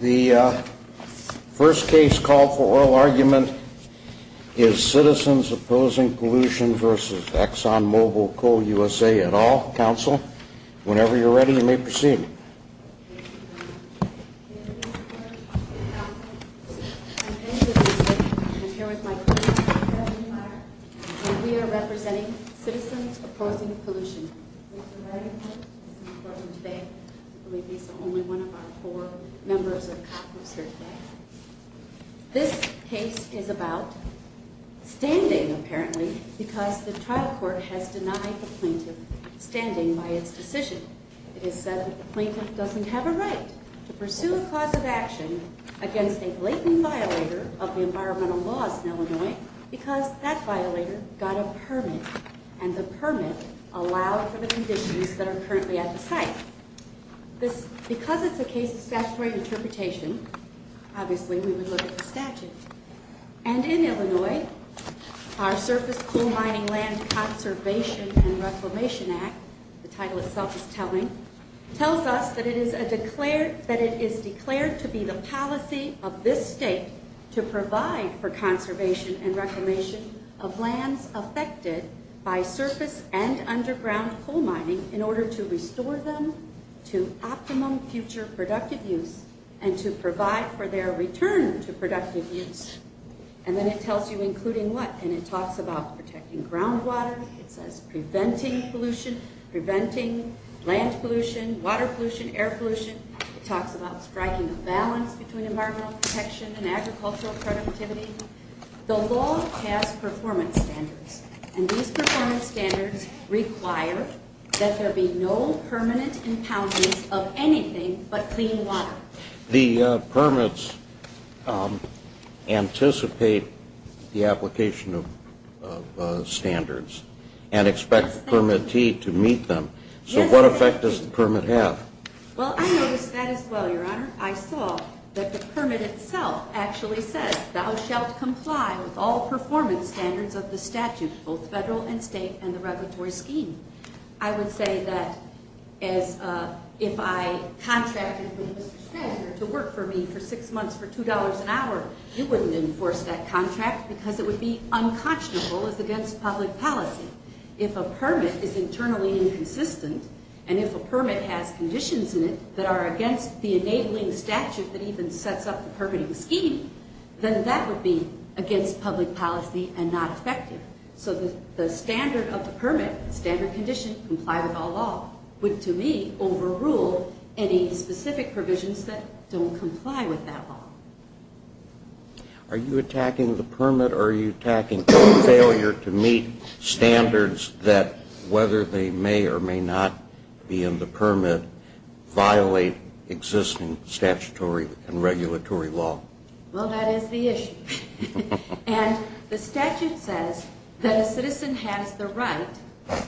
The first case call for oral argument is Citizens Opposing Pollution v. Exxon Mobil Coal USA et al. Council, whenever you're ready you may proceed. We are representing Citizens Opposing Pollution. This case is about standing apparently because the trial court has denied the plaintiff standing by its decision. It is said that the plaintiff doesn't have a right to pursue a cause of action against a blatant violator of the environmental laws in Illinois because that violator got a permit and the permit allowed for the conditions that are currently at the site. Because it's a case of statutory interpretation, obviously we would look at the statute. And in Illinois, our Surface Coal Mining Land Conservation and Reclamation Act, the title itself is telling, tells us that it is declared to be the policy of this state to provide for conservation and reclamation of lands affected by surface and underground coal mining in order to restore them to optimum future productive use and to provide for their return to productive use. And then it tells you including what? And it talks about protecting groundwater. It says preventing pollution, preventing land pollution, water pollution, air pollution. It talks about striking a balance between environmental protection and agricultural productivity. The law has performance standards and these performance standards require that there be no permanent impoundments of anything but clean water. The permits anticipate the application of standards and expect the permittee to meet them. So what effect does the permit have? Well, I noticed that as well, Your Honor. I saw that the permit itself actually says, thou shalt comply with all performance standards of the statute, both federal and state, and the regulatory scheme. I would say that if I contracted with Mr. Schenzer to work for me for six months for $2 an hour, he wouldn't enforce that contract because it would be unconscionable as against public policy. If a permit is internally inconsistent and if a permit has conditions in it that are against the enabling statute that even sets up the permitting scheme, then that would be against public policy and not effective. So the standard of the permit, standard condition, comply with all law, would to me overrule any specific provisions that don't comply with that law. Are you attacking the permit or are you attacking failure to meet standards that, whether they may or may not be in the permit, violate existing statutory and regulatory law? Well, that is the issue. And the statute says that a citizen has the right,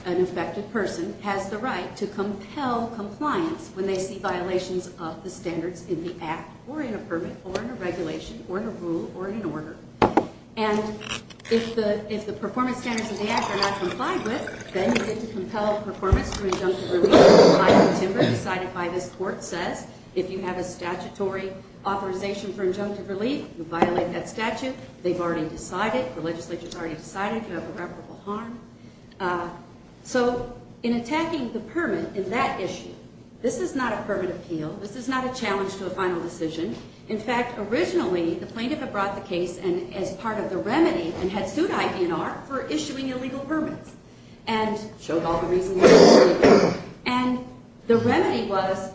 an infected person has the right, to compel compliance when they see violations of the standards in the act, or in a permit, or in a regulation, or in a rule, or in an order. And if the performance standards of the act are not complied with, then you get to compel performance through injunctive relief by a timber decided by this court says. If you have a statutory authorization for injunctive relief, you violate that statute, they've already decided, the legislature's already decided, you have irreparable harm. So in attacking the permit in that issue, this is not a permit appeal, this is not a challenge to a final decision. In fact, originally, the plaintiff had brought the case as part of the remedy and had sued ID&R for issuing illegal permits and showed all the reasons why. And the remedy was,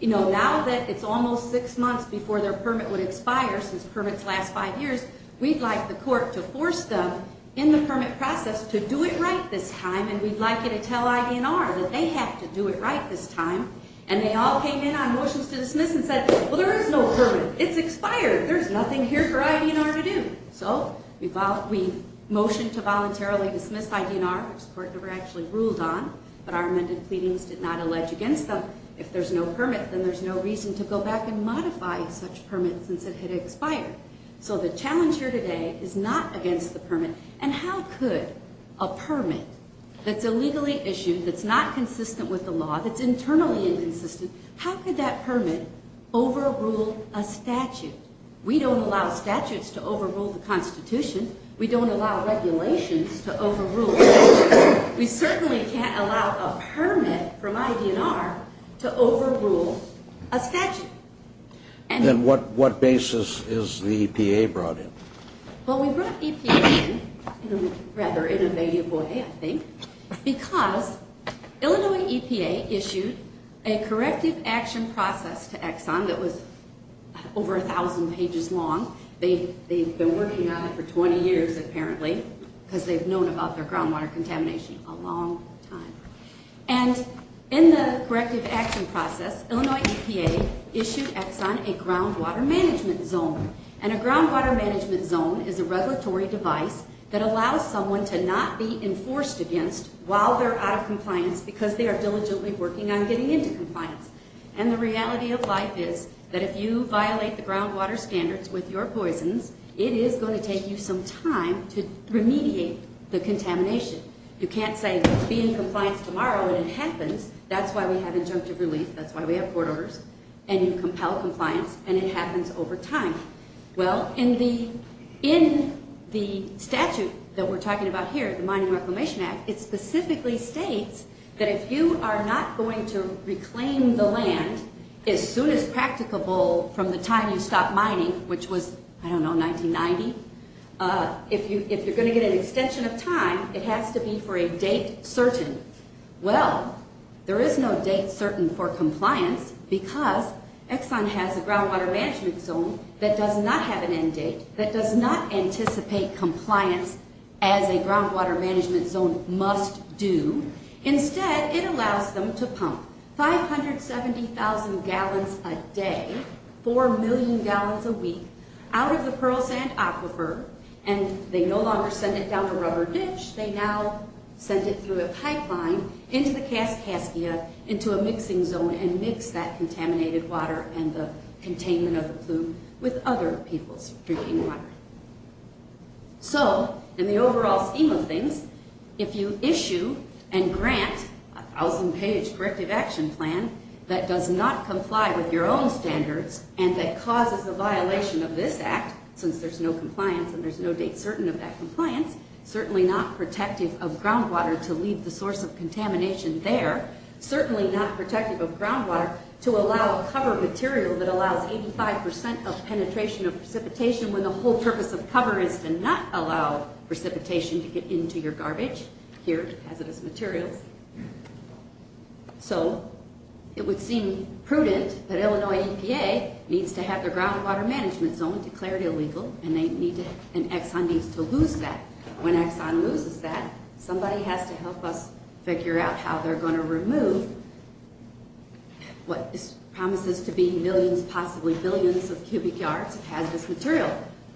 you know, now that it's almost six months before their permit would expire, since permits last five years, we'd like the court to force them in the permit process to do it right this time, and we'd like you to tell ID&R that they have to do it right this time. And they all came in on motions to dismiss and said, well, there is no permit. It's expired. There's nothing here for ID&R to do. So we motioned to voluntarily dismiss ID&R, which the court never actually ruled on, but our amended pleadings did not allege against them. If there's no permit, then there's no reason to go back and modify such permits since it had expired. So the challenge here today is not against the permit. And how could a permit that's illegally issued, that's not consistent with the law, that's internally inconsistent, how could that permit overrule a statute? We don't allow statutes to overrule the Constitution. We don't allow regulations to overrule a statute. We certainly can't allow a permit from ID&R to overrule a statute. And what basis is the EPA brought in? Well, we brought EPA in in a rather innovative way, I think, because Illinois EPA issued a corrective action process to Exxon that was over 1,000 pages long. They've been working on it for 20 years, apparently, because they've known about their groundwater contamination a long time. And in the corrective action process, Illinois EPA issued Exxon a groundwater management zone. And a groundwater management zone is a regulatory device that allows someone to not be enforced against while they're out of compliance because they are diligently working on getting into compliance. And the reality of life is that if you violate the groundwater standards with your poisons, it is going to take you some time to remediate the contamination. You can't say, be in compliance tomorrow, and it happens. That's why we have injunctive relief. That's why we have court orders. And you compel compliance, and it happens over time. Well, in the statute that we're talking about here, the Mining Reclamation Act, it specifically states that if you are not going to reclaim the land as soon as practicable from the time you stopped mining, which was, I don't know, 1990, if you're going to get an extension of time, it has to be for a date certain. Well, there is no date certain for compliance because Exxon has a groundwater management zone that does not have an end date, that does not anticipate compliance as a groundwater management zone must do. Instead, it allows them to pump 570,000 gallons a day, 4 million gallons a week, out of the Pearl Sand Aquifer, and they no longer send it down a rubber ditch. They now send it through a pipeline into the Kaskaskia, into a mixing zone, and mix that contaminated water and the containment of the plume with other people's drinking water. So, in the overall scheme of things, if you issue and grant a 1,000-page corrective action plan that does not comply with your own standards and that causes a violation of this act, since there's no compliance and there's no date certain of that compliance, certainly not protective of groundwater to leave the source of contamination there, certainly not protective of groundwater to allow cover material that allows 85% of penetration of precipitation when the whole purpose of cover is to not allow precipitation to get into your garbage, here, hazardous materials. So, it would seem prudent that Illinois EPA needs to have their groundwater management zone declared illegal, and Exxon needs to lose that. When Exxon loses that, somebody has to help us figure out how they're going to remove what promises to be millions, possibly billions of cubic yards of hazardous material.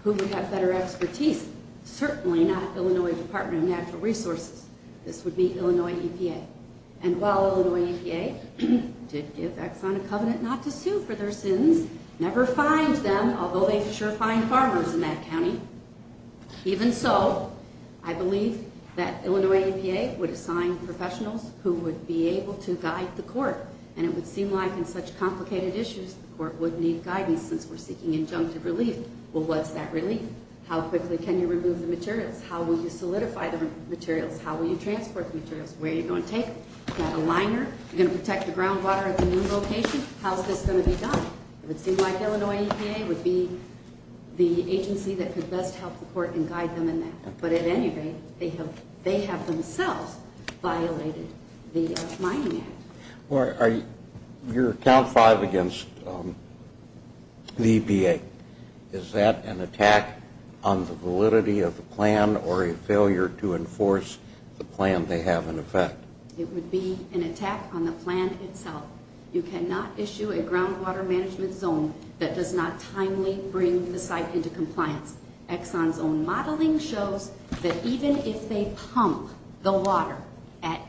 Who would have better expertise? Certainly not Illinois Department of Natural Resources. This would be Illinois EPA. And while Illinois EPA did give Exxon a covenant not to sue for their sins, never fined them, although they sure fined farmers in that county. Even so, I believe that Illinois EPA would assign professionals who would be able to guide the court, and it would seem like in such complicated issues, the court would need guidance since we're seeking injunctive relief. Well, what's that relief? How quickly can you remove the materials? How will you solidify the materials? How will you transport the materials? Where are you going to take them? Do you have a liner? Are you going to protect the groundwater at the new location? How is this going to be done? It would seem like Illinois EPA would be the agency that could best help the court and guide them in that. But at any rate, they have themselves violated the mining act. Your count five against the EPA, is that an attack on the validity of the plan or a failure to enforce the plan they have in effect? It would be an attack on the plan itself. You cannot issue a groundwater management zone that does not timely bring the site into compliance. Exxon's own modeling shows that even if they pump the water at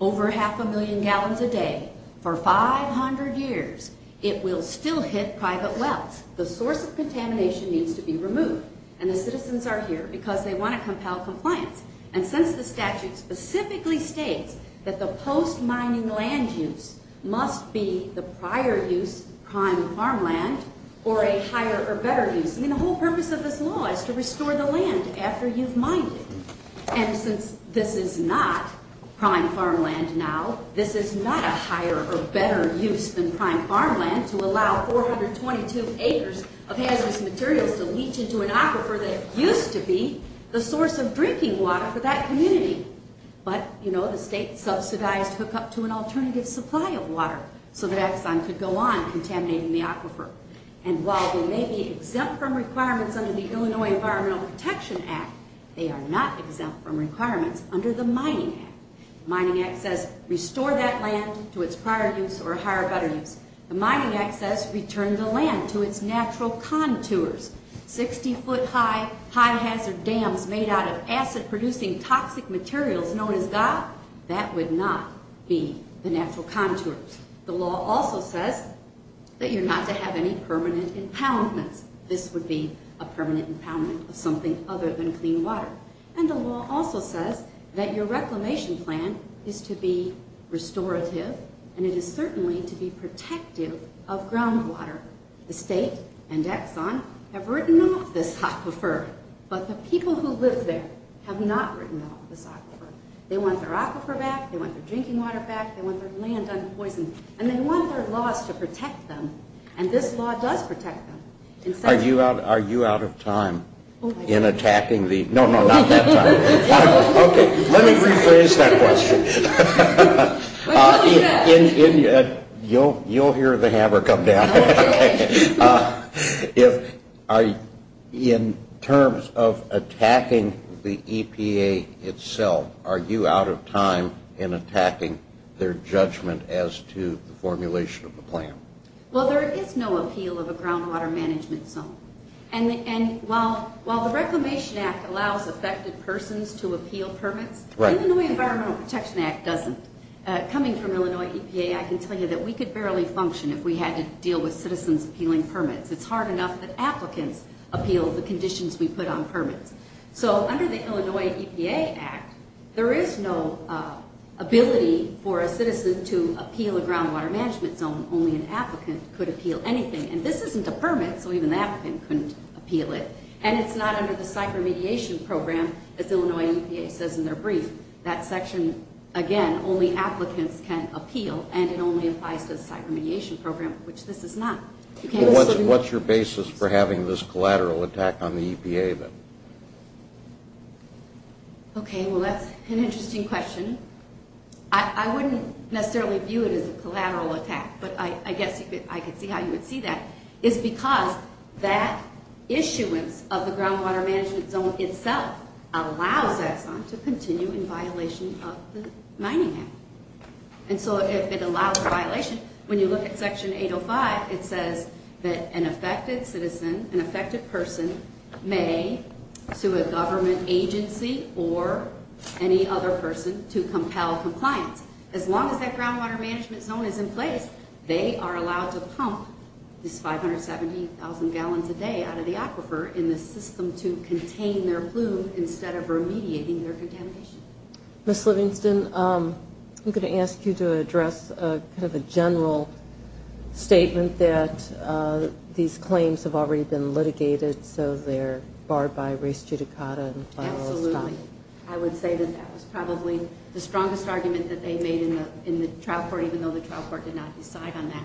over half a million gallons a day for 500 years, it will still hit private wells. The source of contamination needs to be removed. And the citizens are here because they want to compel compliance. And since the statute specifically states that the post-mining land use must be the prior use prime farmland or a higher or better use. I mean, the whole purpose of this law is to restore the land after you've mined it. And since this is not prime farmland now, this is not a higher or better use than prime farmland to allow 422 acres of hazardous materials to leach into an aquifer that used to be the source of drinking water for that community. But, you know, the state subsidized hookup to an alternative supply of water so that Exxon could go on contaminating the aquifer. And while they may be exempt from requirements under the Illinois Environmental Protection Act, they are not exempt from requirements under the Mining Act. The Mining Act says restore that land to its prior use or higher or better use. The Mining Act says return the land to its natural contours. Sixty foot high, high hazard dams made out of acid-producing toxic materials known as GAAP, that would not be the natural contours. The law also says that you're not to have any permanent impoundments. This would be a permanent impoundment of something other than clean water. And the law also says that your reclamation plan is to be restorative and it is certainly to be protective of groundwater. The state and Exxon have written off this aquifer, but the people who live there have not written off this aquifer. They want their aquifer back. They want their drinking water back. They want their land unpoisoned. And they want their laws to protect them. And this law does protect them. Are you out of time in attacking the – no, no, not that time. Okay. Let me rephrase that question. You'll hear the hammer come down. In terms of attacking the EPA itself, are you out of time in attacking their judgment as to the formulation of the plan? Well, there is no appeal of a groundwater management zone. And while the Reclamation Act allows affected persons to appeal permits, the Illinois Environmental Protection Act doesn't. Coming from Illinois EPA, I can tell you that we could barely function if we had to deal with citizens appealing permits. It's hard enough that applicants appeal the conditions we put on permits. So under the Illinois EPA Act, there is no ability for a citizen to appeal a groundwater management zone. Only an applicant could appeal anything. And this isn't a permit, so even the applicant couldn't appeal it. And it's not under the Cyber Mediation Program, as Illinois EPA says in their brief. That section, again, only applicants can appeal, and it only applies to the Cyber Mediation Program, which this is not. What's your basis for having this collateral attack on the EPA, then? Okay, well, that's an interesting question. I wouldn't necessarily view it as a collateral attack, but I guess I could see how you would see that. It's because that issuance of the groundwater management zone itself allows Exxon to continue in violation of the Mining Act. And so if it allows violation, when you look at Section 805, it says that an affected citizen, an affected person, may sue a government agency or any other person to compel compliance. As long as that groundwater management zone is in place, they are allowed to pump this 570,000 gallons a day out of the aquifer in the system to contain their plume instead of remediating their contamination. Ms. Livingston, I'm going to ask you to address kind of a general statement that these claims have already been litigated, so they're barred by res judicata. Absolutely. I would say that that was probably the strongest argument that they made in the trial court, even though the trial court did not decide on that.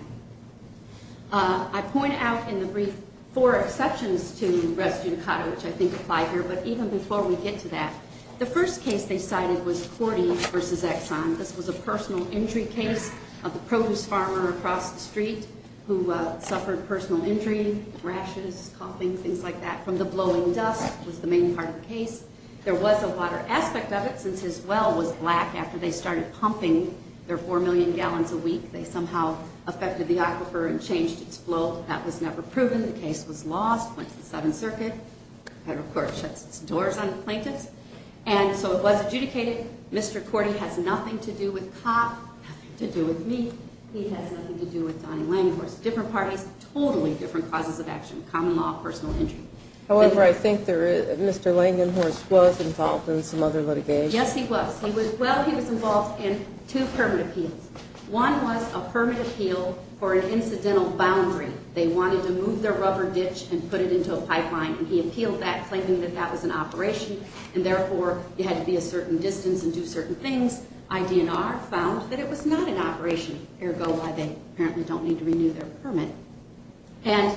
I point out in the brief four exceptions to res judicata, which I think apply here, but even before we get to that, the first case they cited was Cordy v. Exxon. This was a personal injury case of a produce farmer across the street who suffered personal injury, rashes, coughing, things like that, from the blowing dust was the main part of the case. There was a water aspect of it, since his well was black after they started pumping their 4 million gallons a week. They somehow affected the aquifer and changed its flow. That was never proven. The case was lost, went to the Seventh Circuit. Federal court shuts its doors on the plaintiffs. And so it was adjudicated. Mr. Cordy has nothing to do with Cobb, nothing to do with me. He has nothing to do with Donnie Langenhorst. Different parties, totally different causes of action, common law, personal injury. However, I think Mr. Langenhorst was involved in some other litigation. Yes, he was. Well, he was involved in two permit appeals. One was a permit appeal for an incidental boundary. They wanted to move their rubber ditch and put it into a pipeline. And he appealed that, claiming that that was an operation, and therefore it had to be a certain distance and do certain things. IDNR found that it was not an operation, ergo why they apparently don't need to renew their permit. And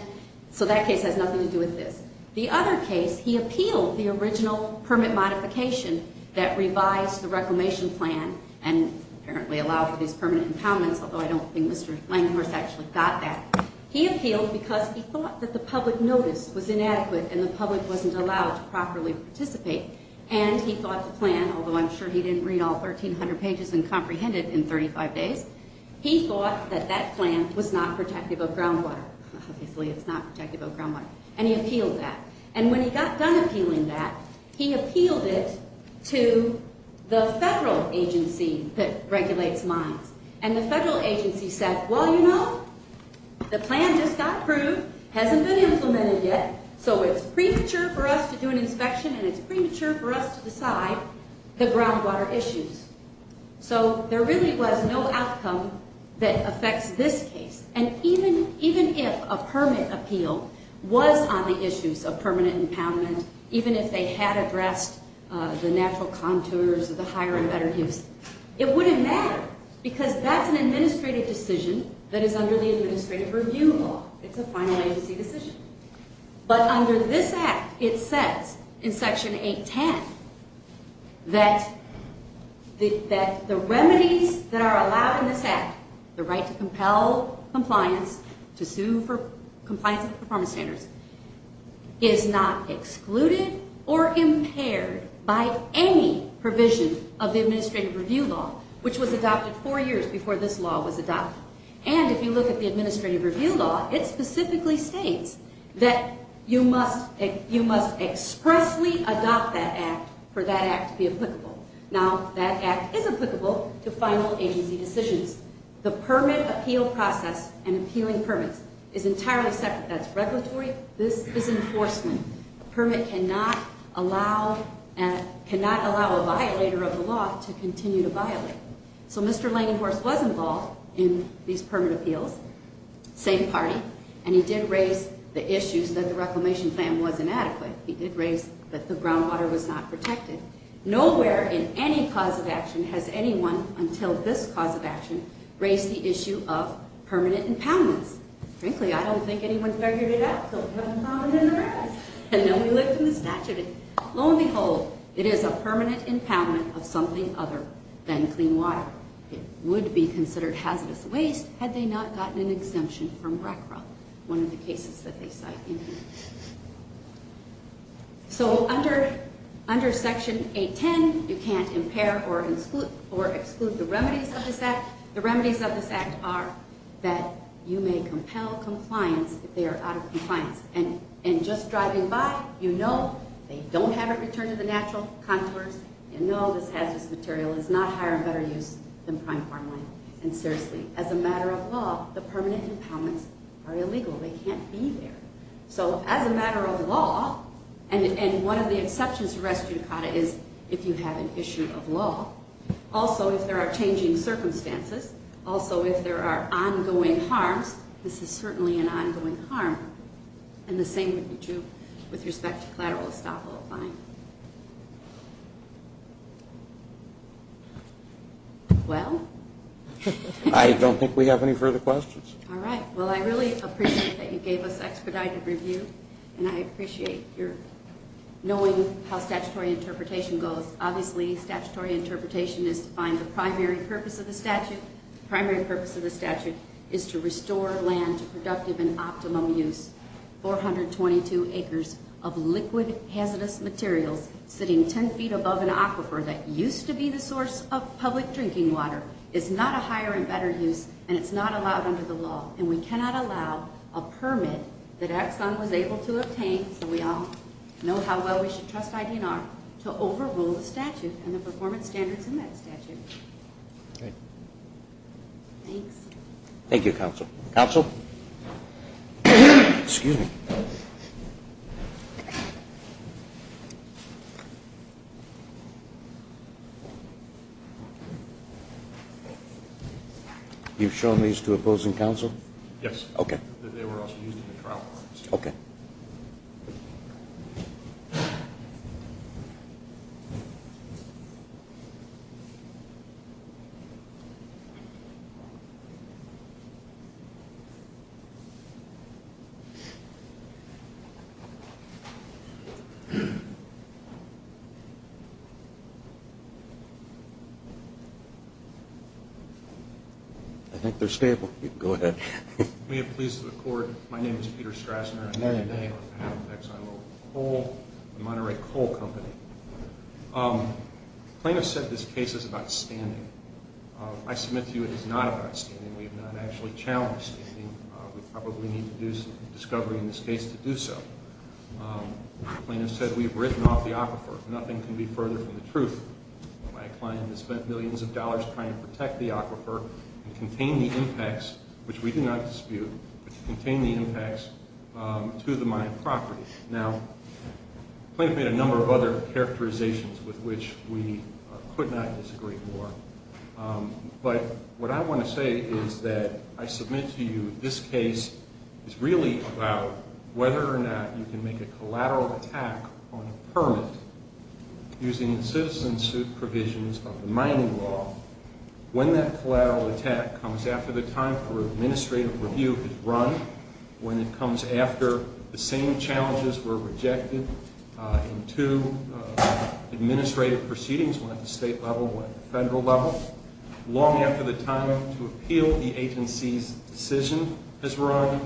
so that case has nothing to do with this. The other case, he appealed the original permit modification that revised the reclamation plan and apparently allowed for these permanent impoundments, although I don't think Mr. Langenhorst actually got that. He appealed because he thought that the public notice was inadequate and the public wasn't allowed to properly participate. And he thought the plan, although I'm sure he didn't read all 1,300 pages and comprehend it in 35 days, he thought that that plan was not protective of groundwater. Obviously it's not protective of groundwater. And he appealed that. And when he got done appealing that, he appealed it to the federal agency that regulates mines. And the federal agency said, well, you know, the plan just got approved, hasn't been implemented yet, so it's premature for us to do an inspection and it's premature for us to decide the groundwater issues. So there really was no outcome that affects this case. And even if a permit appeal was on the issues of permanent impoundment, even if they had addressed the natural contours of the higher and better use, it wouldn't matter because that's an administrative decision that is under the Administrative Review Law. It's a final agency decision. But under this Act, it says in Section 810 that the remedies that are allowed in this Act, the right to compel compliance, to sue for compliance with performance standards, is not excluded or impaired by any provision of the Administrative Review Law, which was adopted four years before this law was adopted. And if you look at the Administrative Review Law, it specifically states that you must expressly adopt that Act for that Act to be applicable. Now, that Act is applicable to final agency decisions. The permit appeal process and appealing permits is entirely separate. That's regulatory. This is enforcement. A permit cannot allow a violator of the law to continue to violate. So Mr. Langenhorst was involved in these permit appeals, same party, and he did raise the issues that the Reclamation Plan was inadequate. He did raise that the groundwater was not protected. Nowhere in any cause of action has anyone, until this cause of action, raised the issue of permanent impoundments. Frankly, I don't think anyone figured it out, so we haven't found it in the rest. And nobody lived in the statute. Lo and behold, it is a permanent impoundment of something other than clean water. It would be considered hazardous waste had they not gotten an exemption from RCRA, one of the cases that they cite in here. So under Section 810, you can't impair or exclude the remedies of this Act. The remedies of this Act are that you may compel compliance if they are out of compliance. And just driving by, you know they don't have it returned to the natural contours. You know this hazardous material is not higher and better use than prime farmland. And seriously, as a matter of law, the permanent impoundments are illegal. They can't be there. So as a matter of law, and one of the exceptions to res judicata is if you have an issue of law, also if there are changing circumstances, also if there are ongoing harms. This is certainly an ongoing harm. And the same would be true with respect to collateral estoppel fine. Well? I don't think we have any further questions. All right. Well, I really appreciate that you gave us expedited review, and I appreciate your knowing how statutory interpretation goes. Obviously, statutory interpretation is to find the primary purpose of the statute. The primary purpose of the statute is to restore land to productive and optimum use. 422 acres of liquid hazardous materials sitting 10 feet above an aquifer that used to be the source of public drinking water is not a higher and better use, and it's not allowed under the law. And we cannot allow a permit that Exxon was able to obtain, so we all know how well we should trust ID&R, to overrule the statute and the performance standards in that statute. Thank you. Thank you, counsel. Counsel? Excuse me. You've shown these to opposing counsel? Yes. Okay. Okay. I think they're stable. Go ahead. May it please the Court, my name is Peter Strassner. I'm here today on behalf of ExxonMobil Coal, the Monterey Coal Company. The plaintiff said this case is about standing. I submit to you it is not about standing. We have not actually challenged standing. We probably need to do some discovery in this case to do so. The plaintiff said we have written off the aquifer. Nothing can be further from the truth. My client has spent millions of dollars trying to protect the aquifer and contain the impacts, which we do not dispute, but contain the impacts to the mined property. Now, the plaintiff made a number of other characterizations with which we could not disagree more. But what I want to say is that I submit to you this case is really about whether or not you can make a collateral attack on a permit using the citizen suit provisions of the mining law. When that collateral attack comes after the time for administrative review has run, when it comes after the same challenges were rejected in two administrative proceedings, one at the state level, one at the federal level, long after the time to appeal the agency's decision has run,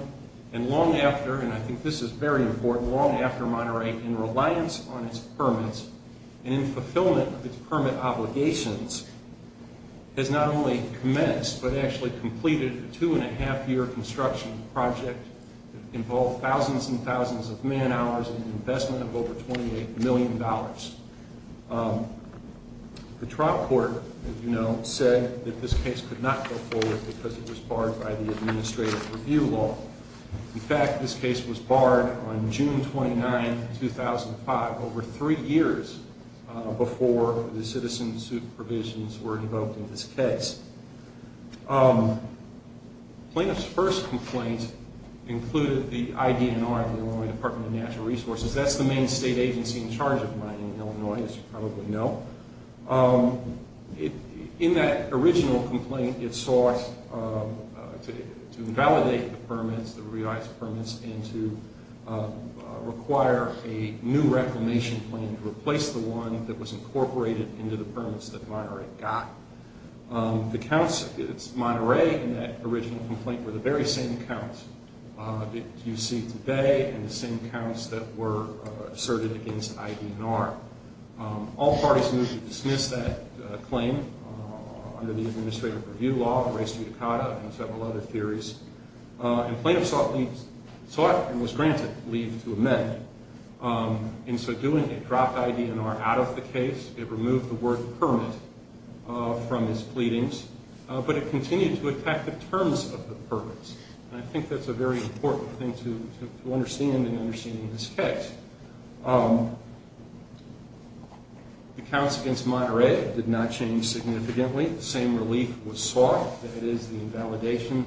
and long after, and I think this is very important, long after Monterey, in reliance on its permits and in fulfillment of its permit obligations has not only commenced but actually completed a two-and-a-half-year construction project that involved thousands and thousands of man hours and an investment of over $28 million. The trial court, as you know, said that this case could not go forward because it was barred by the administrative review law. In fact, this case was barred on June 29, 2005, over three years before the citizen suit provisions were invoked in this case. Plaintiff's first complaint included the IDNR, the Illinois Department of Natural Resources. That's the main state agency in charge of mining in Illinois, as you probably know. In that original complaint, it sought to invalidate the permits, the revised permits, and to require a new reclamation plan to replace the one that was incorporated into the permits that Monterey got. The counts, Monterey in that original complaint, were the very same counts that you see today and the same counts that were asserted against IDNR. All parties moved to dismiss that claim under the administrative review law, and several other theories. Plaintiff sought and was granted leave to amend. In so doing, it dropped IDNR out of the case. It removed the word permit from his pleadings, but it continued to attack the terms of the permits. I think that's a very important thing to understand in understanding this case. The counts against Monterey did not change significantly. The same relief was sought. It is the invalidation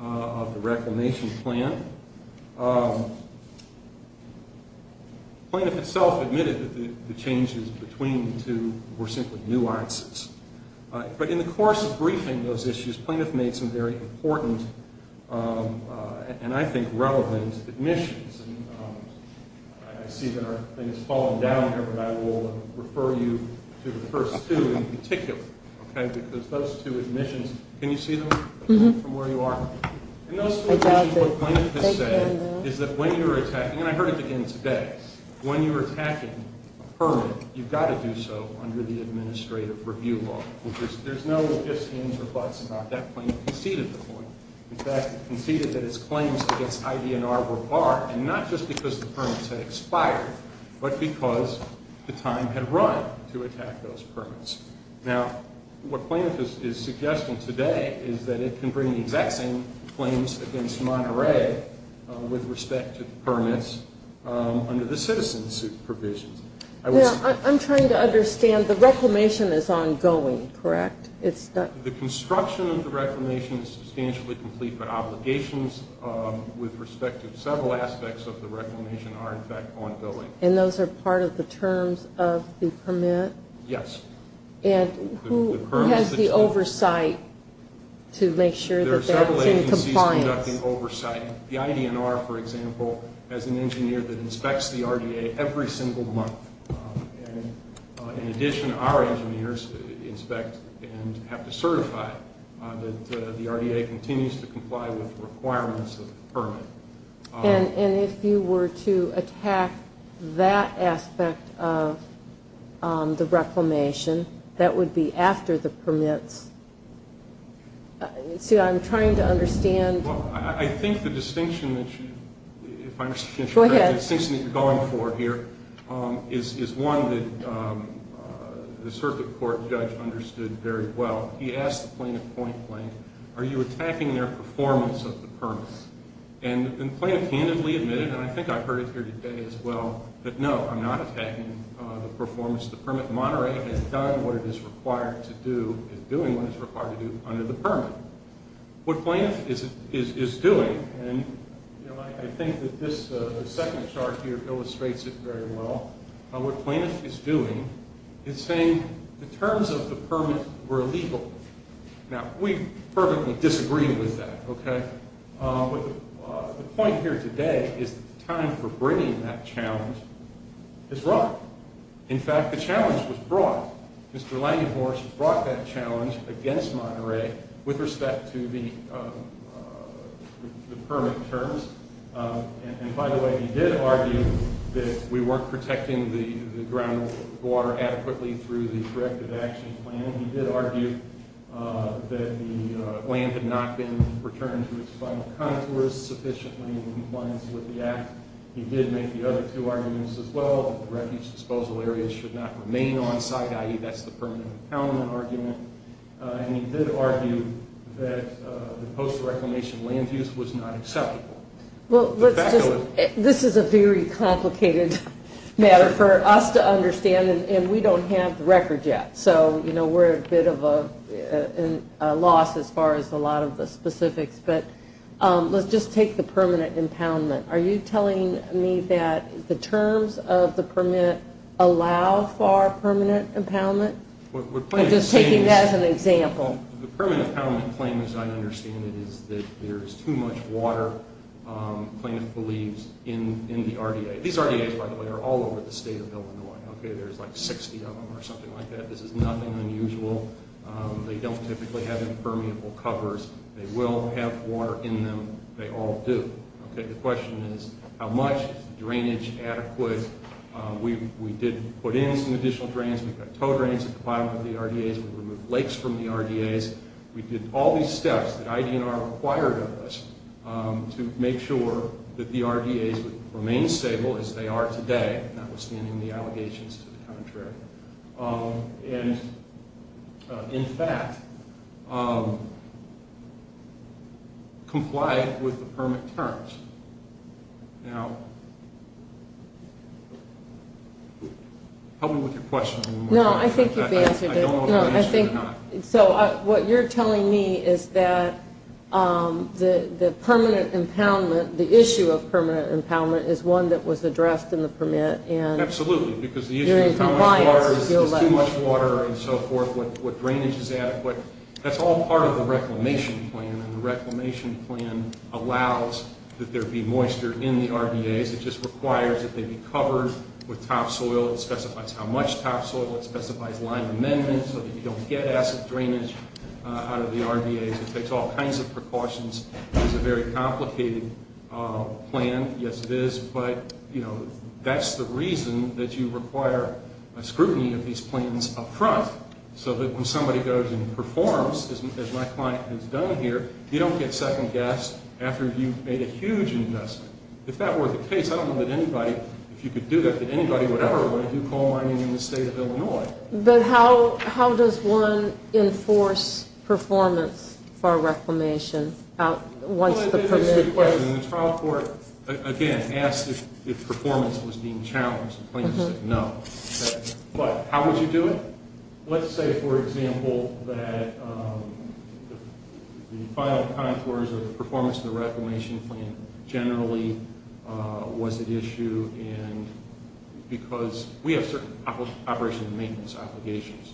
of the reclamation plan. Plaintiff itself admitted that the changes between the two were simply nuances. But in the course of briefing those issues, plaintiff made some very important and, I think, relevant admissions. I see that our thing is falling down here, but I will refer you to the first two in particular, because those two admissions, can you see them from where you are? In those two admissions, what plaintiff has said is that when you're attacking, and I heard it again today, when you're attacking a permit, you've got to do so under the administrative review law. There's no ifs, ands, or buts about that. Plaintiff conceded the point. In fact, he conceded that his claims against IDNR were barred, and not just because the permits had expired, but because the time had run to attack those permits. Now, what plaintiff is suggesting today is that it can bring the exact same claims against Monterey with respect to the permits under the citizen suit provisions. Now, I'm trying to understand. The reclamation is ongoing, correct? The construction of the reclamation is substantially complete, but obligations with respect to several aspects of the reclamation are, in fact, ongoing. And those are part of the terms of the permit? Yes. And who has the oversight to make sure that that's in compliance? There are several agencies conducting oversight. The IDNR, for example, has an engineer that inspects the RDA every single month. In addition, our engineers inspect and have to certify that the RDA continues to comply with the requirements of the permit. And if you were to attack that aspect of the reclamation, that would be after the permits? See, I'm trying to understand. Well, I think the distinction that you're going for here is one that the circuit court judge understood very well. He asked the plaintiff point blank, are you attacking their performance of the permit? And the plaintiff handedly admitted, and I think I heard it here today as well, that no, I'm not attacking the performance of the permit. Monterey has done what it is required to do, is doing what it's required to do under the permit. What plaintiff is doing, and I think that this second chart here illustrates it very well. What plaintiff is doing is saying the terms of the permit were illegal. Now, we perfectly disagree with that, okay? The point here today is that the time for bringing that challenge is wrong. In fact, the challenge was brought. Mr. Langenborsch brought that challenge against Monterey with respect to the permit terms. And, by the way, he did argue that we weren't protecting the groundwater adequately through the corrective action plan. He did argue that the land had not been returned to its final contours sufficiently in compliance with the act. He did make the other two arguments as well, that the refuge disposal areas should not remain on site, i.e., that's the permanent impoundment argument. And he did argue that the post-reclamation land use was not acceptable. This is a very complicated matter for us to understand, and we don't have the record yet. So, you know, we're at a bit of a loss as far as a lot of the specifics. But let's just take the permanent impoundment. Are you telling me that the terms of the permit allow for permanent impoundment? I'm just taking that as an example. The permanent impoundment claim, as I understand it, is that there is too much water, the plaintiff believes, in the RDA. These RDAs, by the way, are all over the state of Illinois. There's like 60 of them or something like that. This is nothing unusual. They don't typically have impermeable covers. They will have water in them. They all do. The question is, how much drainage adequate? We did put in some additional drains. We've got tow drains that comply with the RDAs. We've removed lakes from the RDAs. We did all these steps that IDNR required of us to make sure that the RDAs would remain stable as they are today, notwithstanding the allegations to the contrary, and, in fact, comply with the permit terms. Now, help me with your question one more time. No, I think you've answered it. I don't know if I've answered it or not. So what you're telling me is that the permanent impoundment, the issue of permanent impoundment, is one that was addressed in the permit. Absolutely, because the issue is how much water is too much water and so forth, what drainage is adequate. That's all part of the reclamation plan, and the reclamation plan allows that there be moisture in the RDAs. It just requires that they be covered with topsoil. It specifies how much topsoil. It specifies line amendments so that you don't get acid drainage out of the RDAs. It takes all kinds of precautions. It's a very complicated plan. Yes, it is, but that's the reason that you require scrutiny of these plans up front so that when somebody goes and performs, as my client has done here, you don't get second-guessed after you've made a huge investment. If that were the case, I don't know that anybody, if you could do that, that anybody, whatever, would want to do coal mining in the state of Illinois. But how does one enforce performance for a reclamation once the permit is in place? That's a good question. The trial court, again, asked if performance was being challenged. The plaintiff said no. But how would you do it? Let's say, for example, that the final contours of the performance of the reclamation plan generally was at issue because we have certain operation and maintenance obligations.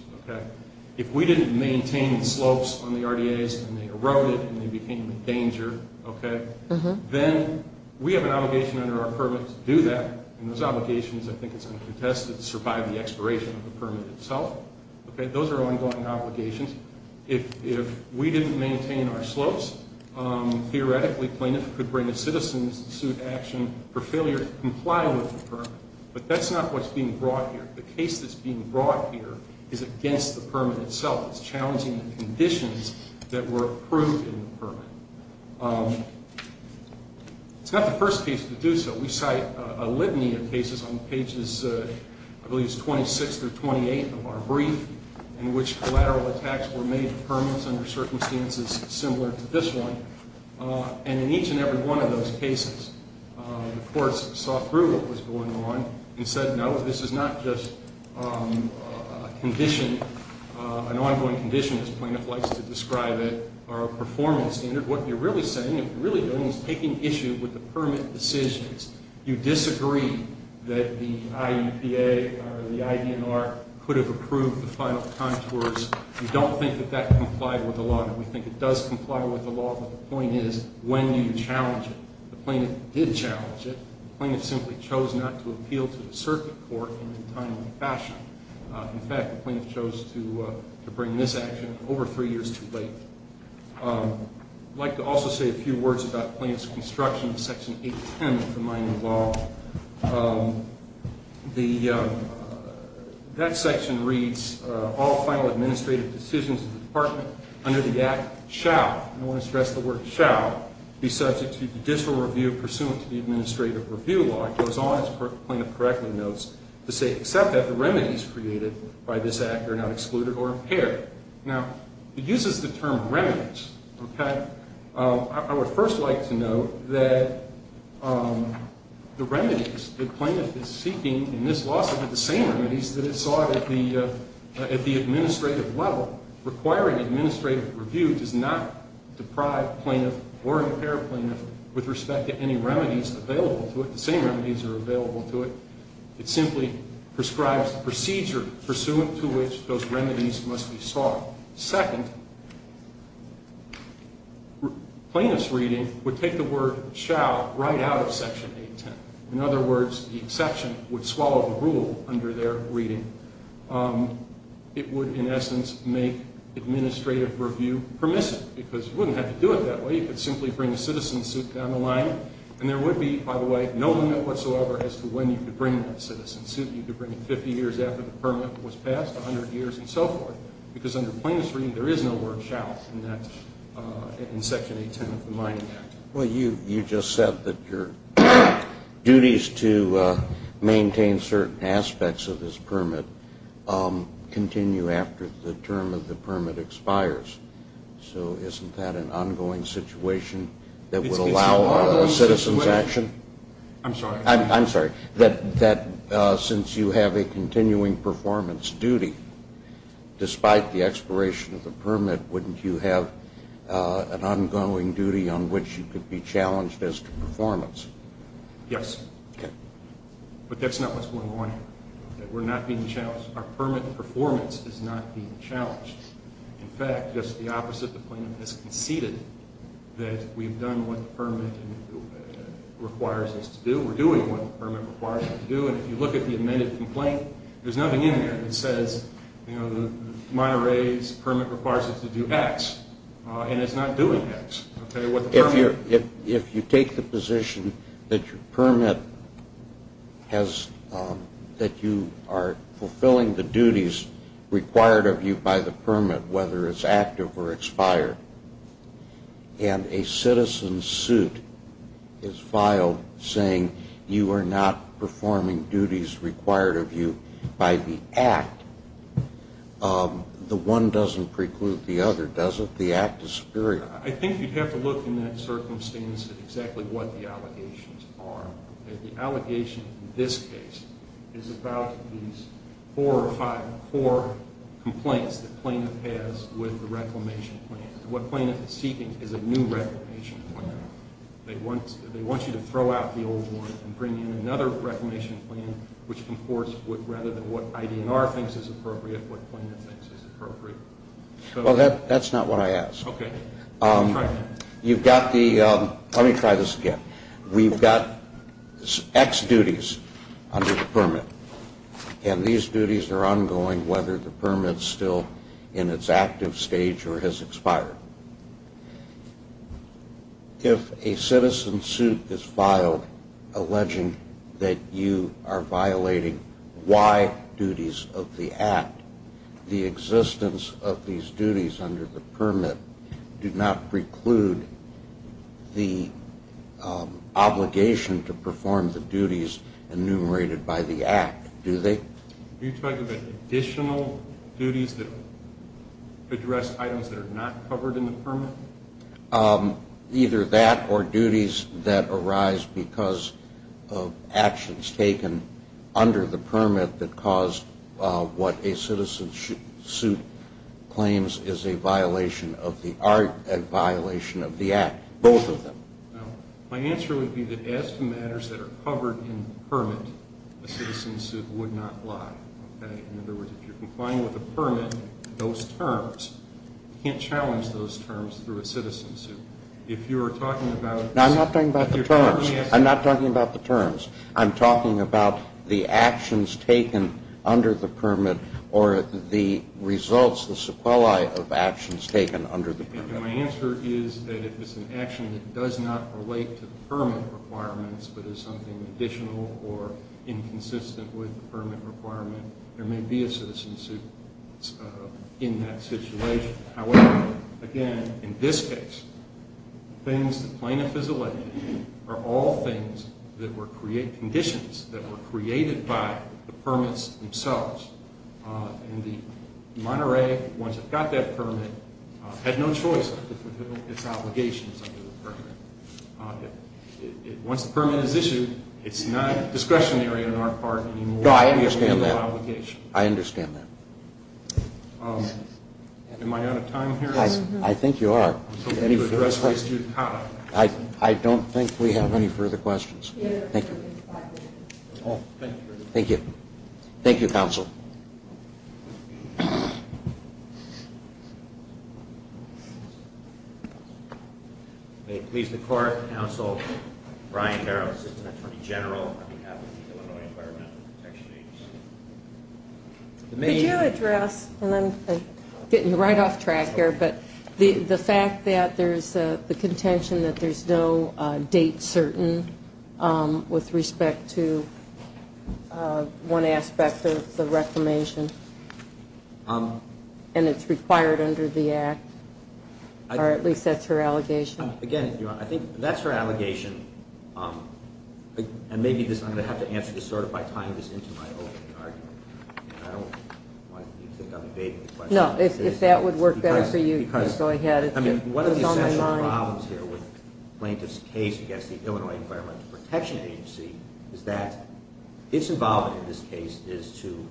If we didn't maintain the slopes on the RDAs and they eroded and they became a danger, then we have an obligation under our permit to do that, and those obligations, I think it's under the test to survive the expiration of the permit itself. Those are ongoing obligations. If we didn't maintain our slopes, theoretically, plaintiff could bring the citizens to suit action for failure to comply with the permit. But that's not what's being brought here. The case that's being brought here is against the permit itself. It's challenging the conditions that were approved in the permit. It's not the first case to do so. We cite a litany of cases on pages, I believe it's 26 through 28 of our brief, in which collateral attacks were made to permits under circumstances similar to this one. And in each and every one of those cases, the courts saw through what was going on and said, no, this is not just a condition, an ongoing condition, as plaintiff likes to describe it, or a performance standard. What you're really saying, what you're really doing is taking issue with the permit decisions. You disagree that the IEPA or the IDNR could have approved the final contours. You don't think that that complied with the law, and we think it does comply with the law, but the point is, when do you challenge it? The plaintiff did challenge it. The plaintiff simply chose not to appeal to the circuit court in a timely fashion. In fact, the plaintiff chose to bring this action over three years too late. I'd like to also say a few words about plaintiff's construction of Section 810 of the mining law. That section reads, all final administrative decisions of the department under the Act shall, and I want to stress the word shall, be subject to judicial review pursuant to the administrative review law. As the plaintiff correctly notes, to say except that the remedies created by this Act are not excluded or impaired. Now, it uses the term remedies. I would first like to note that the remedies the plaintiff is seeking in this lawsuit are the same remedies that it sought at the administrative level. Requiring administrative review does not deprive plaintiff or impair plaintiff with respect to any remedies available to it. The same remedies are available to it. It simply prescribes the procedure pursuant to which those remedies must be sought. Second, plaintiff's reading would take the word shall right out of Section 810. In other words, the exception would swallow the rule under their reading. It would, in essence, make administrative review permissive because you wouldn't have to do it that way. You could simply bring a citizen suit down the line, and there would be, by the way, no limit whatsoever as to when you could bring that citizen suit. You could bring it 50 years after the permit was passed, 100 years, and so forth, because under plaintiff's reading, there is no word shall in that, in Section 810 of the Mining Act. Well, you just said that your duties to maintain certain aspects of this permit continue after the term of the permit expires. So isn't that an ongoing situation that would allow a citizen's action? I'm sorry. I'm sorry. That since you have a continuing performance duty, despite the expiration of the permit, wouldn't you have an ongoing duty on which you could be challenged as to performance? Yes. Okay. But that's not what's going on here. We're not being challenged. Our permit performance is not being challenged. In fact, just the opposite, the plaintiff has conceded that we've done what the permit requires us to do. We're doing what the permit requires us to do, and if you look at the amended complaint, there's nothing in there that says the minor raise permit requires us to do X, and it's not doing X. If you take the position that your permit has that you are fulfilling the duties required of you by the permit, whether it's active or expired, and a citizen's suit is filed saying you are not performing duties required of you by the act, the one doesn't preclude the other, does it? The act is superior. I think you'd have to look in that circumstance at exactly what the allegations are. The allegation in this case is about these four or five, four complaints that plaintiff has with the reclamation plan. What plaintiff is seeking is a new reclamation plan. They want you to throw out the old one and bring in another reclamation plan, which comports with rather than what IDNR thinks is appropriate, what plaintiff thinks is appropriate. Well, that's not what I asked. Okay. You've got the, let me try this again. We've got X duties under the permit, and these duties are ongoing whether the permit is still in its active stage or has expired. If a citizen's suit is filed alleging that you are violating Y duties of the act, the existence of these duties under the permit do not preclude the obligation to perform the duties enumerated by the act, do they? Are you talking about additional duties that address items that are not covered in the permit? Either that or duties that arise because of actions taken under the permit that cause what a citizen's suit claims is a violation of the art, a violation of the act, both of them. My answer would be that as for matters that are covered in the permit, a citizen's suit would not lie. Okay. In other words, if you're complying with the permit, those terms, you can't challenge those terms through a citizen's suit. If you are talking about the terms. I'm not talking about the terms. I'm talking about the actions taken under the permit or the results, the sequelae of actions taken under the permit. And my answer is that if it's an action that does not relate to the permit requirements but is something additional or inconsistent with the permit requirement, there may be a citizen's suit in that situation. However, again, in this case, things that plaintiff is alleged are all things that were conditions that were created by the permits themselves. And the Monterey, once it got that permit, had no choice but to fulfill its obligations under the permit. Once the permit is issued, it's not discretionary on our part anymore. No, I understand that. I understand that. Am I out of time here? I think you are. I don't think we have any further questions. Thank you. Thank you. Thank you, counsel. Thank you. May it please the court, counsel Brian Carroll, assistant attorney general on behalf of the Illinois Environmental Protection Agency. Could you address, and I'm getting right off track here, but the fact that there's the contention that there's no date certain with respect to one aspect of the reclamation, and it's required under the act, or at least that's her allegation. Again, I think that's her allegation, and maybe I'm going to have to answer this sort of by tying this into my opening argument. I don't want you to think I'm evading the question. No, if that would work better for you, just go ahead. I mean, one of the essential problems here with plaintiff's case against the Illinois Environmental Protection Agency is that its involvement in this case is to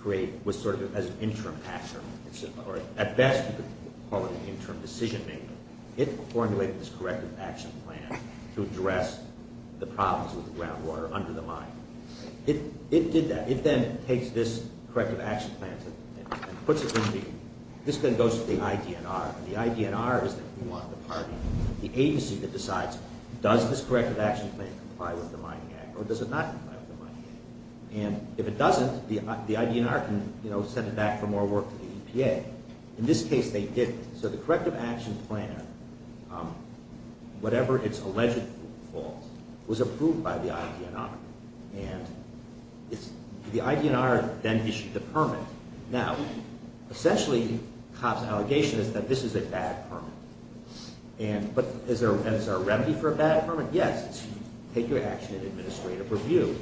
create what's sort of an interim action, or at best you could call it an interim decision maker. It formulated this corrective action plan to address the problems with the groundwater under the mine. It did that. It then takes this corrective action plan and puts it in the, this then goes to the IDNR, and the IDNR is the party, the agency that decides does this corrective action plan comply with the Mining Act or does it not comply with the Mining Act, and if it doesn't, the IDNR can send it back for more work to the EPA. In this case they didn't, so the corrective action plan, whatever its alleged fault, was approved by the IDNR. And the IDNR then issued the permit. Now, essentially Cobb's allegation is that this is a bad permit. But is there a remedy for a bad permit? Yes, it's take your action in administrative review.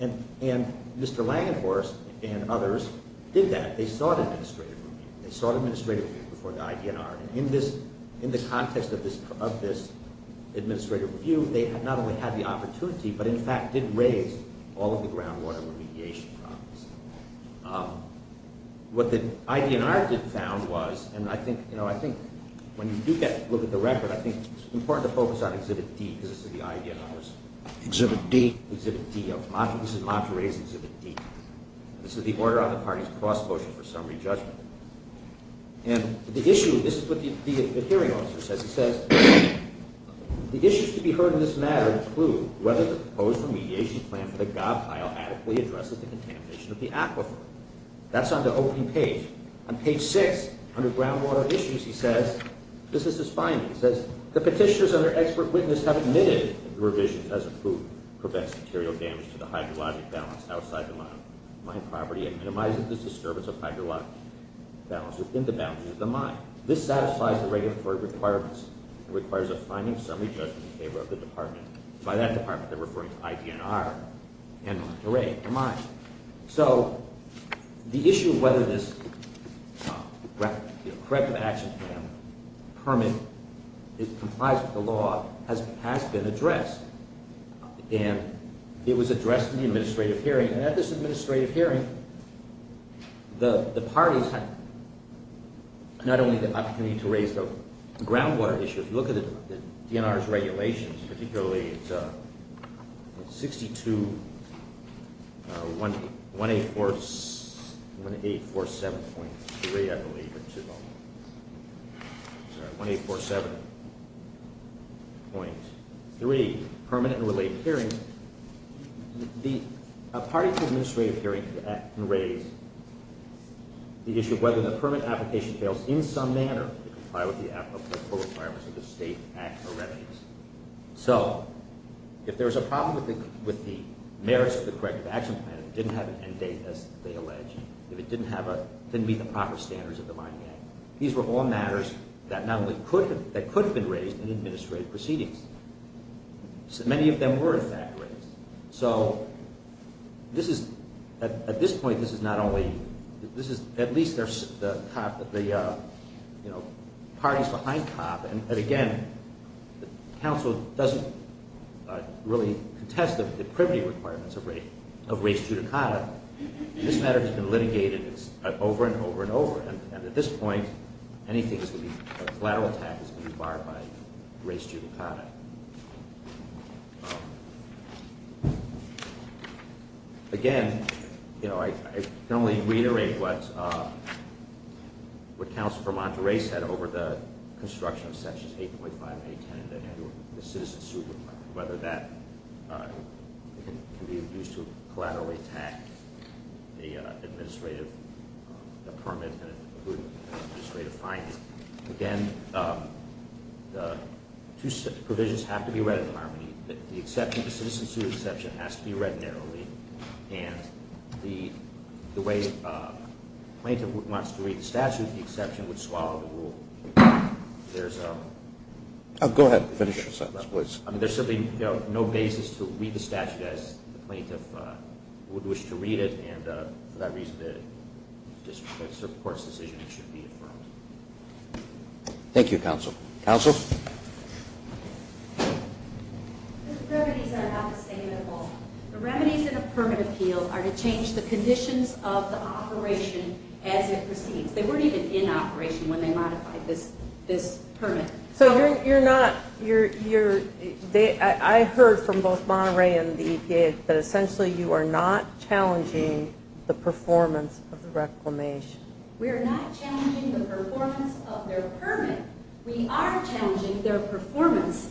And Mr. Langenhorst and others did that. They sought administrative review. They sought administrative review before the IDNR. In the context of this administrative review, they not only had the opportunity, but in fact did raise all of the groundwater remediation problems. What the IDNR did found was, and I think when you do look at the record, I think it's important to focus on Exhibit D because this is the IDNR's. Exhibit D. Exhibit D. This is Monterey's Exhibit D. This is the Order on the Party's Cost Motion for Summary Judgment. And the issue, this is what the hearing officer says. He says, the issues to be heard in this matter include whether the proposed remediation plan for the gob pile adequately addresses the contamination of the aquifer. That's on the opening page. On page 6, under groundwater issues, he says, this is his finding. He says, the petitioners under expert witness have admitted the revision as approved prevents material damage to the hydrologic balance outside the mine property and minimizes the disturbance of hydrologic balance within the boundaries of the mine. This satisfies the regulatory requirements. It requires a finding summary judgment in favor of the department. By that department, they're referring to IDNR and Monterey, the mine. So the issue of whether this corrective action plan permit complies with the law has been addressed. And it was addressed in the administrative hearing. And at this administrative hearing, the parties had not only the opportunity to raise the groundwater issue. If you look at the DNR's regulations, particularly it's 62, 1847.3, I believe it's involved. Sorry, 1847.3, Permanent and Related Hearing. A party to an administrative hearing can raise the issue of whether the permit application fails in some manner to comply with the applicable requirements of the state act or revenues. So if there's a problem with the merits of the corrective action plan, if it didn't have an end date, as they allege, if it didn't meet the proper standards of the mining act, these were all matters that could have been raised in administrative proceedings. Many of them were, in fact, raised. So this is, at this point, this is not only, this is at least the parties behind COP. And again, the council doesn't really contest the privity requirements of race judicata. This matter has been litigated over and over and over. And at this point, anything that's going to be a collateral attack is going to be barred by race judicata. Again, you know, I can only reiterate what Councilor Permanteau raised over the construction of sections 8.5 and 8.10 that handle the citizen suit, whether that can be used to collaterally attack the administrative permit and administrative findings. Again, the two provisions have to be read in harmony. The exception, the citizen suit exception has to be read narrowly. And the way a plaintiff wants to read the statute, the exception would swallow the rule. There's no basis to read the statute as the plaintiff would wish to read it. And for that reason, the district court's decision should be affirmed. Thank you, Counsel. Counsel? The remedies are not the same at all. The remedies in a permit appeal are to change the conditions of the operation as it proceeds. They weren't even in operation when they modified this permit. So you're not, you're, I heard from both Monterey and the EPA that essentially you are not challenging the performance of the reclamation. We are not challenging the performance of their permit. We are challenging their performance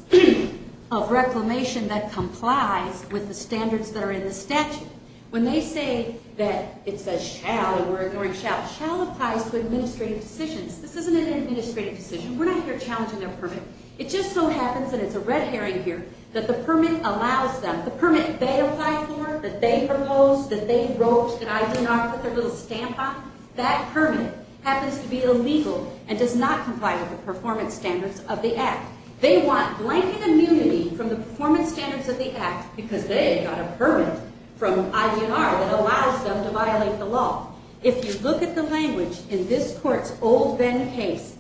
of reclamation that complies with the standards that are in the statute. When they say that it says shall, and we're ignoring shall, shall applies to administrative decisions. This isn't an administrative decision. We're not here challenging their permit. It just so happens, and it's a red herring here, that the permit allows them, the permit they applied for, that they proposed, that they wrote, that I did not put their little stamp on, that permit happens to be illegal and does not comply with the performance standards of the Act. They want blanket immunity from the performance standards of the Act because they got a permit from ID&R that allows them to violate the law. If you look at the language in this court's old Venn case,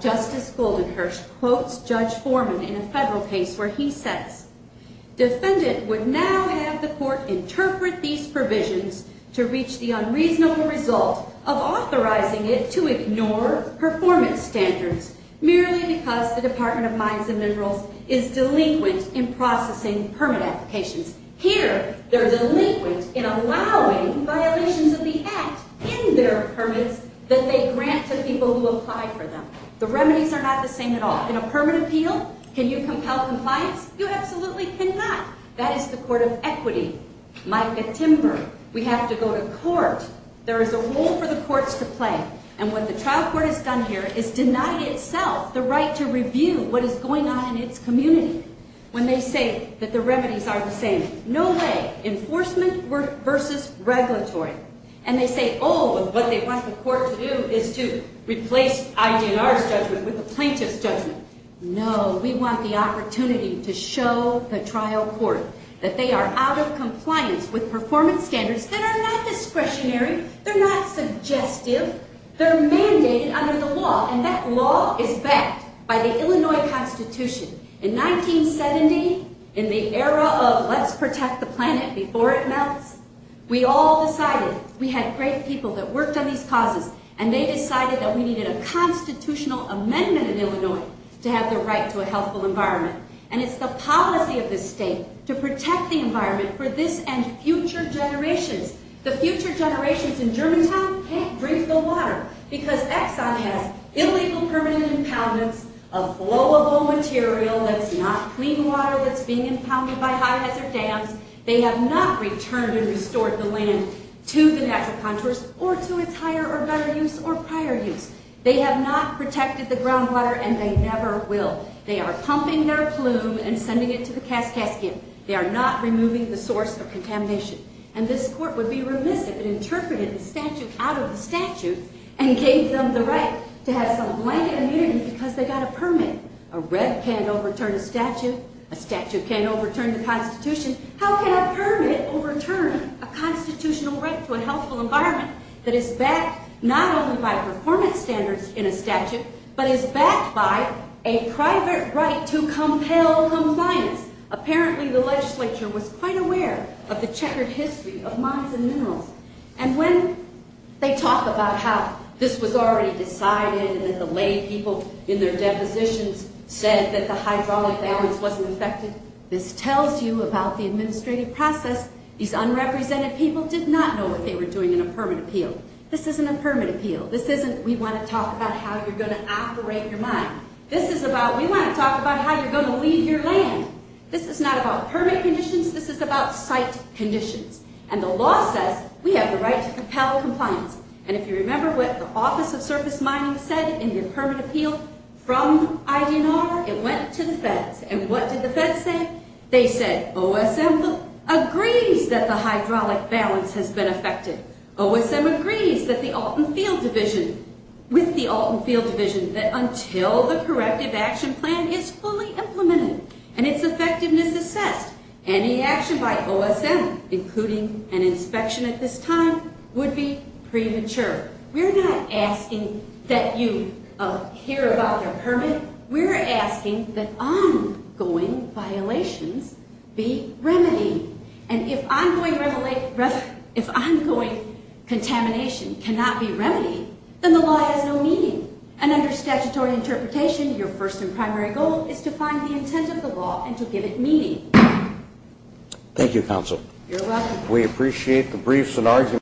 Justice Goldenhirsch quotes Judge Foreman in a federal case where he says, defendant would now have the court interpret these provisions to reach the unreasonable result of authorizing it to ignore performance standards, merely because the Department of Mines and Minerals is delinquent in processing permit applications. Here, they're delinquent in allowing violations of the Act in their permits that they grant to people who apply for them. The remedies are not the same at all. In a permit appeal, can you compel compliance? You absolutely cannot. That is the court of equity. Micah Timber. We have to go to court. There is a role for the courts to play. And what the trial court has done here is deny itself the right to review what is going on in its community when they say that the remedies are the same. No way. Enforcement versus regulatory. And they say, oh, what they want the court to do is to replace ID&R's judgment with the plaintiff's judgment. No, we want the opportunity to show the trial court that they are out of compliance with performance standards that are not discretionary, they're not suggestive, they're mandated under the law, and that law is backed by the Illinois Constitution. In 1970, in the era of let's protect the planet before it melts, we all decided, we had great people that worked on these causes, and they decided that we needed a constitutional amendment in Illinois to have the right to a healthful environment. And it's the policy of this state to protect the environment for this and future generations. The future generations in Germantown can't drink the water because Exxon has illegal permanent impoundments of flowable material that's not clean water that's being impounded by high-hazard dams. They have not returned and restored the land to the natural contours or to its higher or better use or prior use. They have not protected the groundwater, and they never will. They are pumping their plume and sending it to the Kaskaskia. They are not removing the source of contamination. And this court would be remiss if it interpreted the statute out of the statute and gave them the right to have some blanket immunity because they got a permit. A rep can't overturn a statute. A statute can't overturn the Constitution. How can a permit overturn a constitutional right to a healthful environment that is backed not only by performance standards in a statute, but is backed by a private right to compel compliance? Apparently, the legislature was quite aware of the checkered history of mines and minerals. And when they talk about how this was already decided and that the lay people in their depositions said that the hydraulic balance wasn't affected, this tells you about the administrative process. These unrepresented people did not know what they were doing in a permit appeal. This isn't a permit appeal. This isn't we want to talk about how you're going to operate your mine. This is about we want to talk about how you're going to leave your land. This is not about permit conditions. This is about site conditions. And the law says we have the right to compel compliance. And if you remember what the Office of Surface Mining said in the permit appeal from IDNR, it went to the feds. And what did the feds say? They said OSM agrees that the hydraulic balance has been affected. OSM agrees with the Alton Field Division that until the corrective action plan is fully implemented and its effectiveness assessed, any action by OSM, including an inspection at this time, would be premature. We're not asking that you hear about the permit. We're asking that ongoing violations be remedied. And if ongoing contamination cannot be remedied, then the law has no meaning. And under statutory interpretation, your first and primary goal is to find the intent of the law and to give it meaning. Thank you, Counsel. You're welcome. We appreciate the briefs and arguments.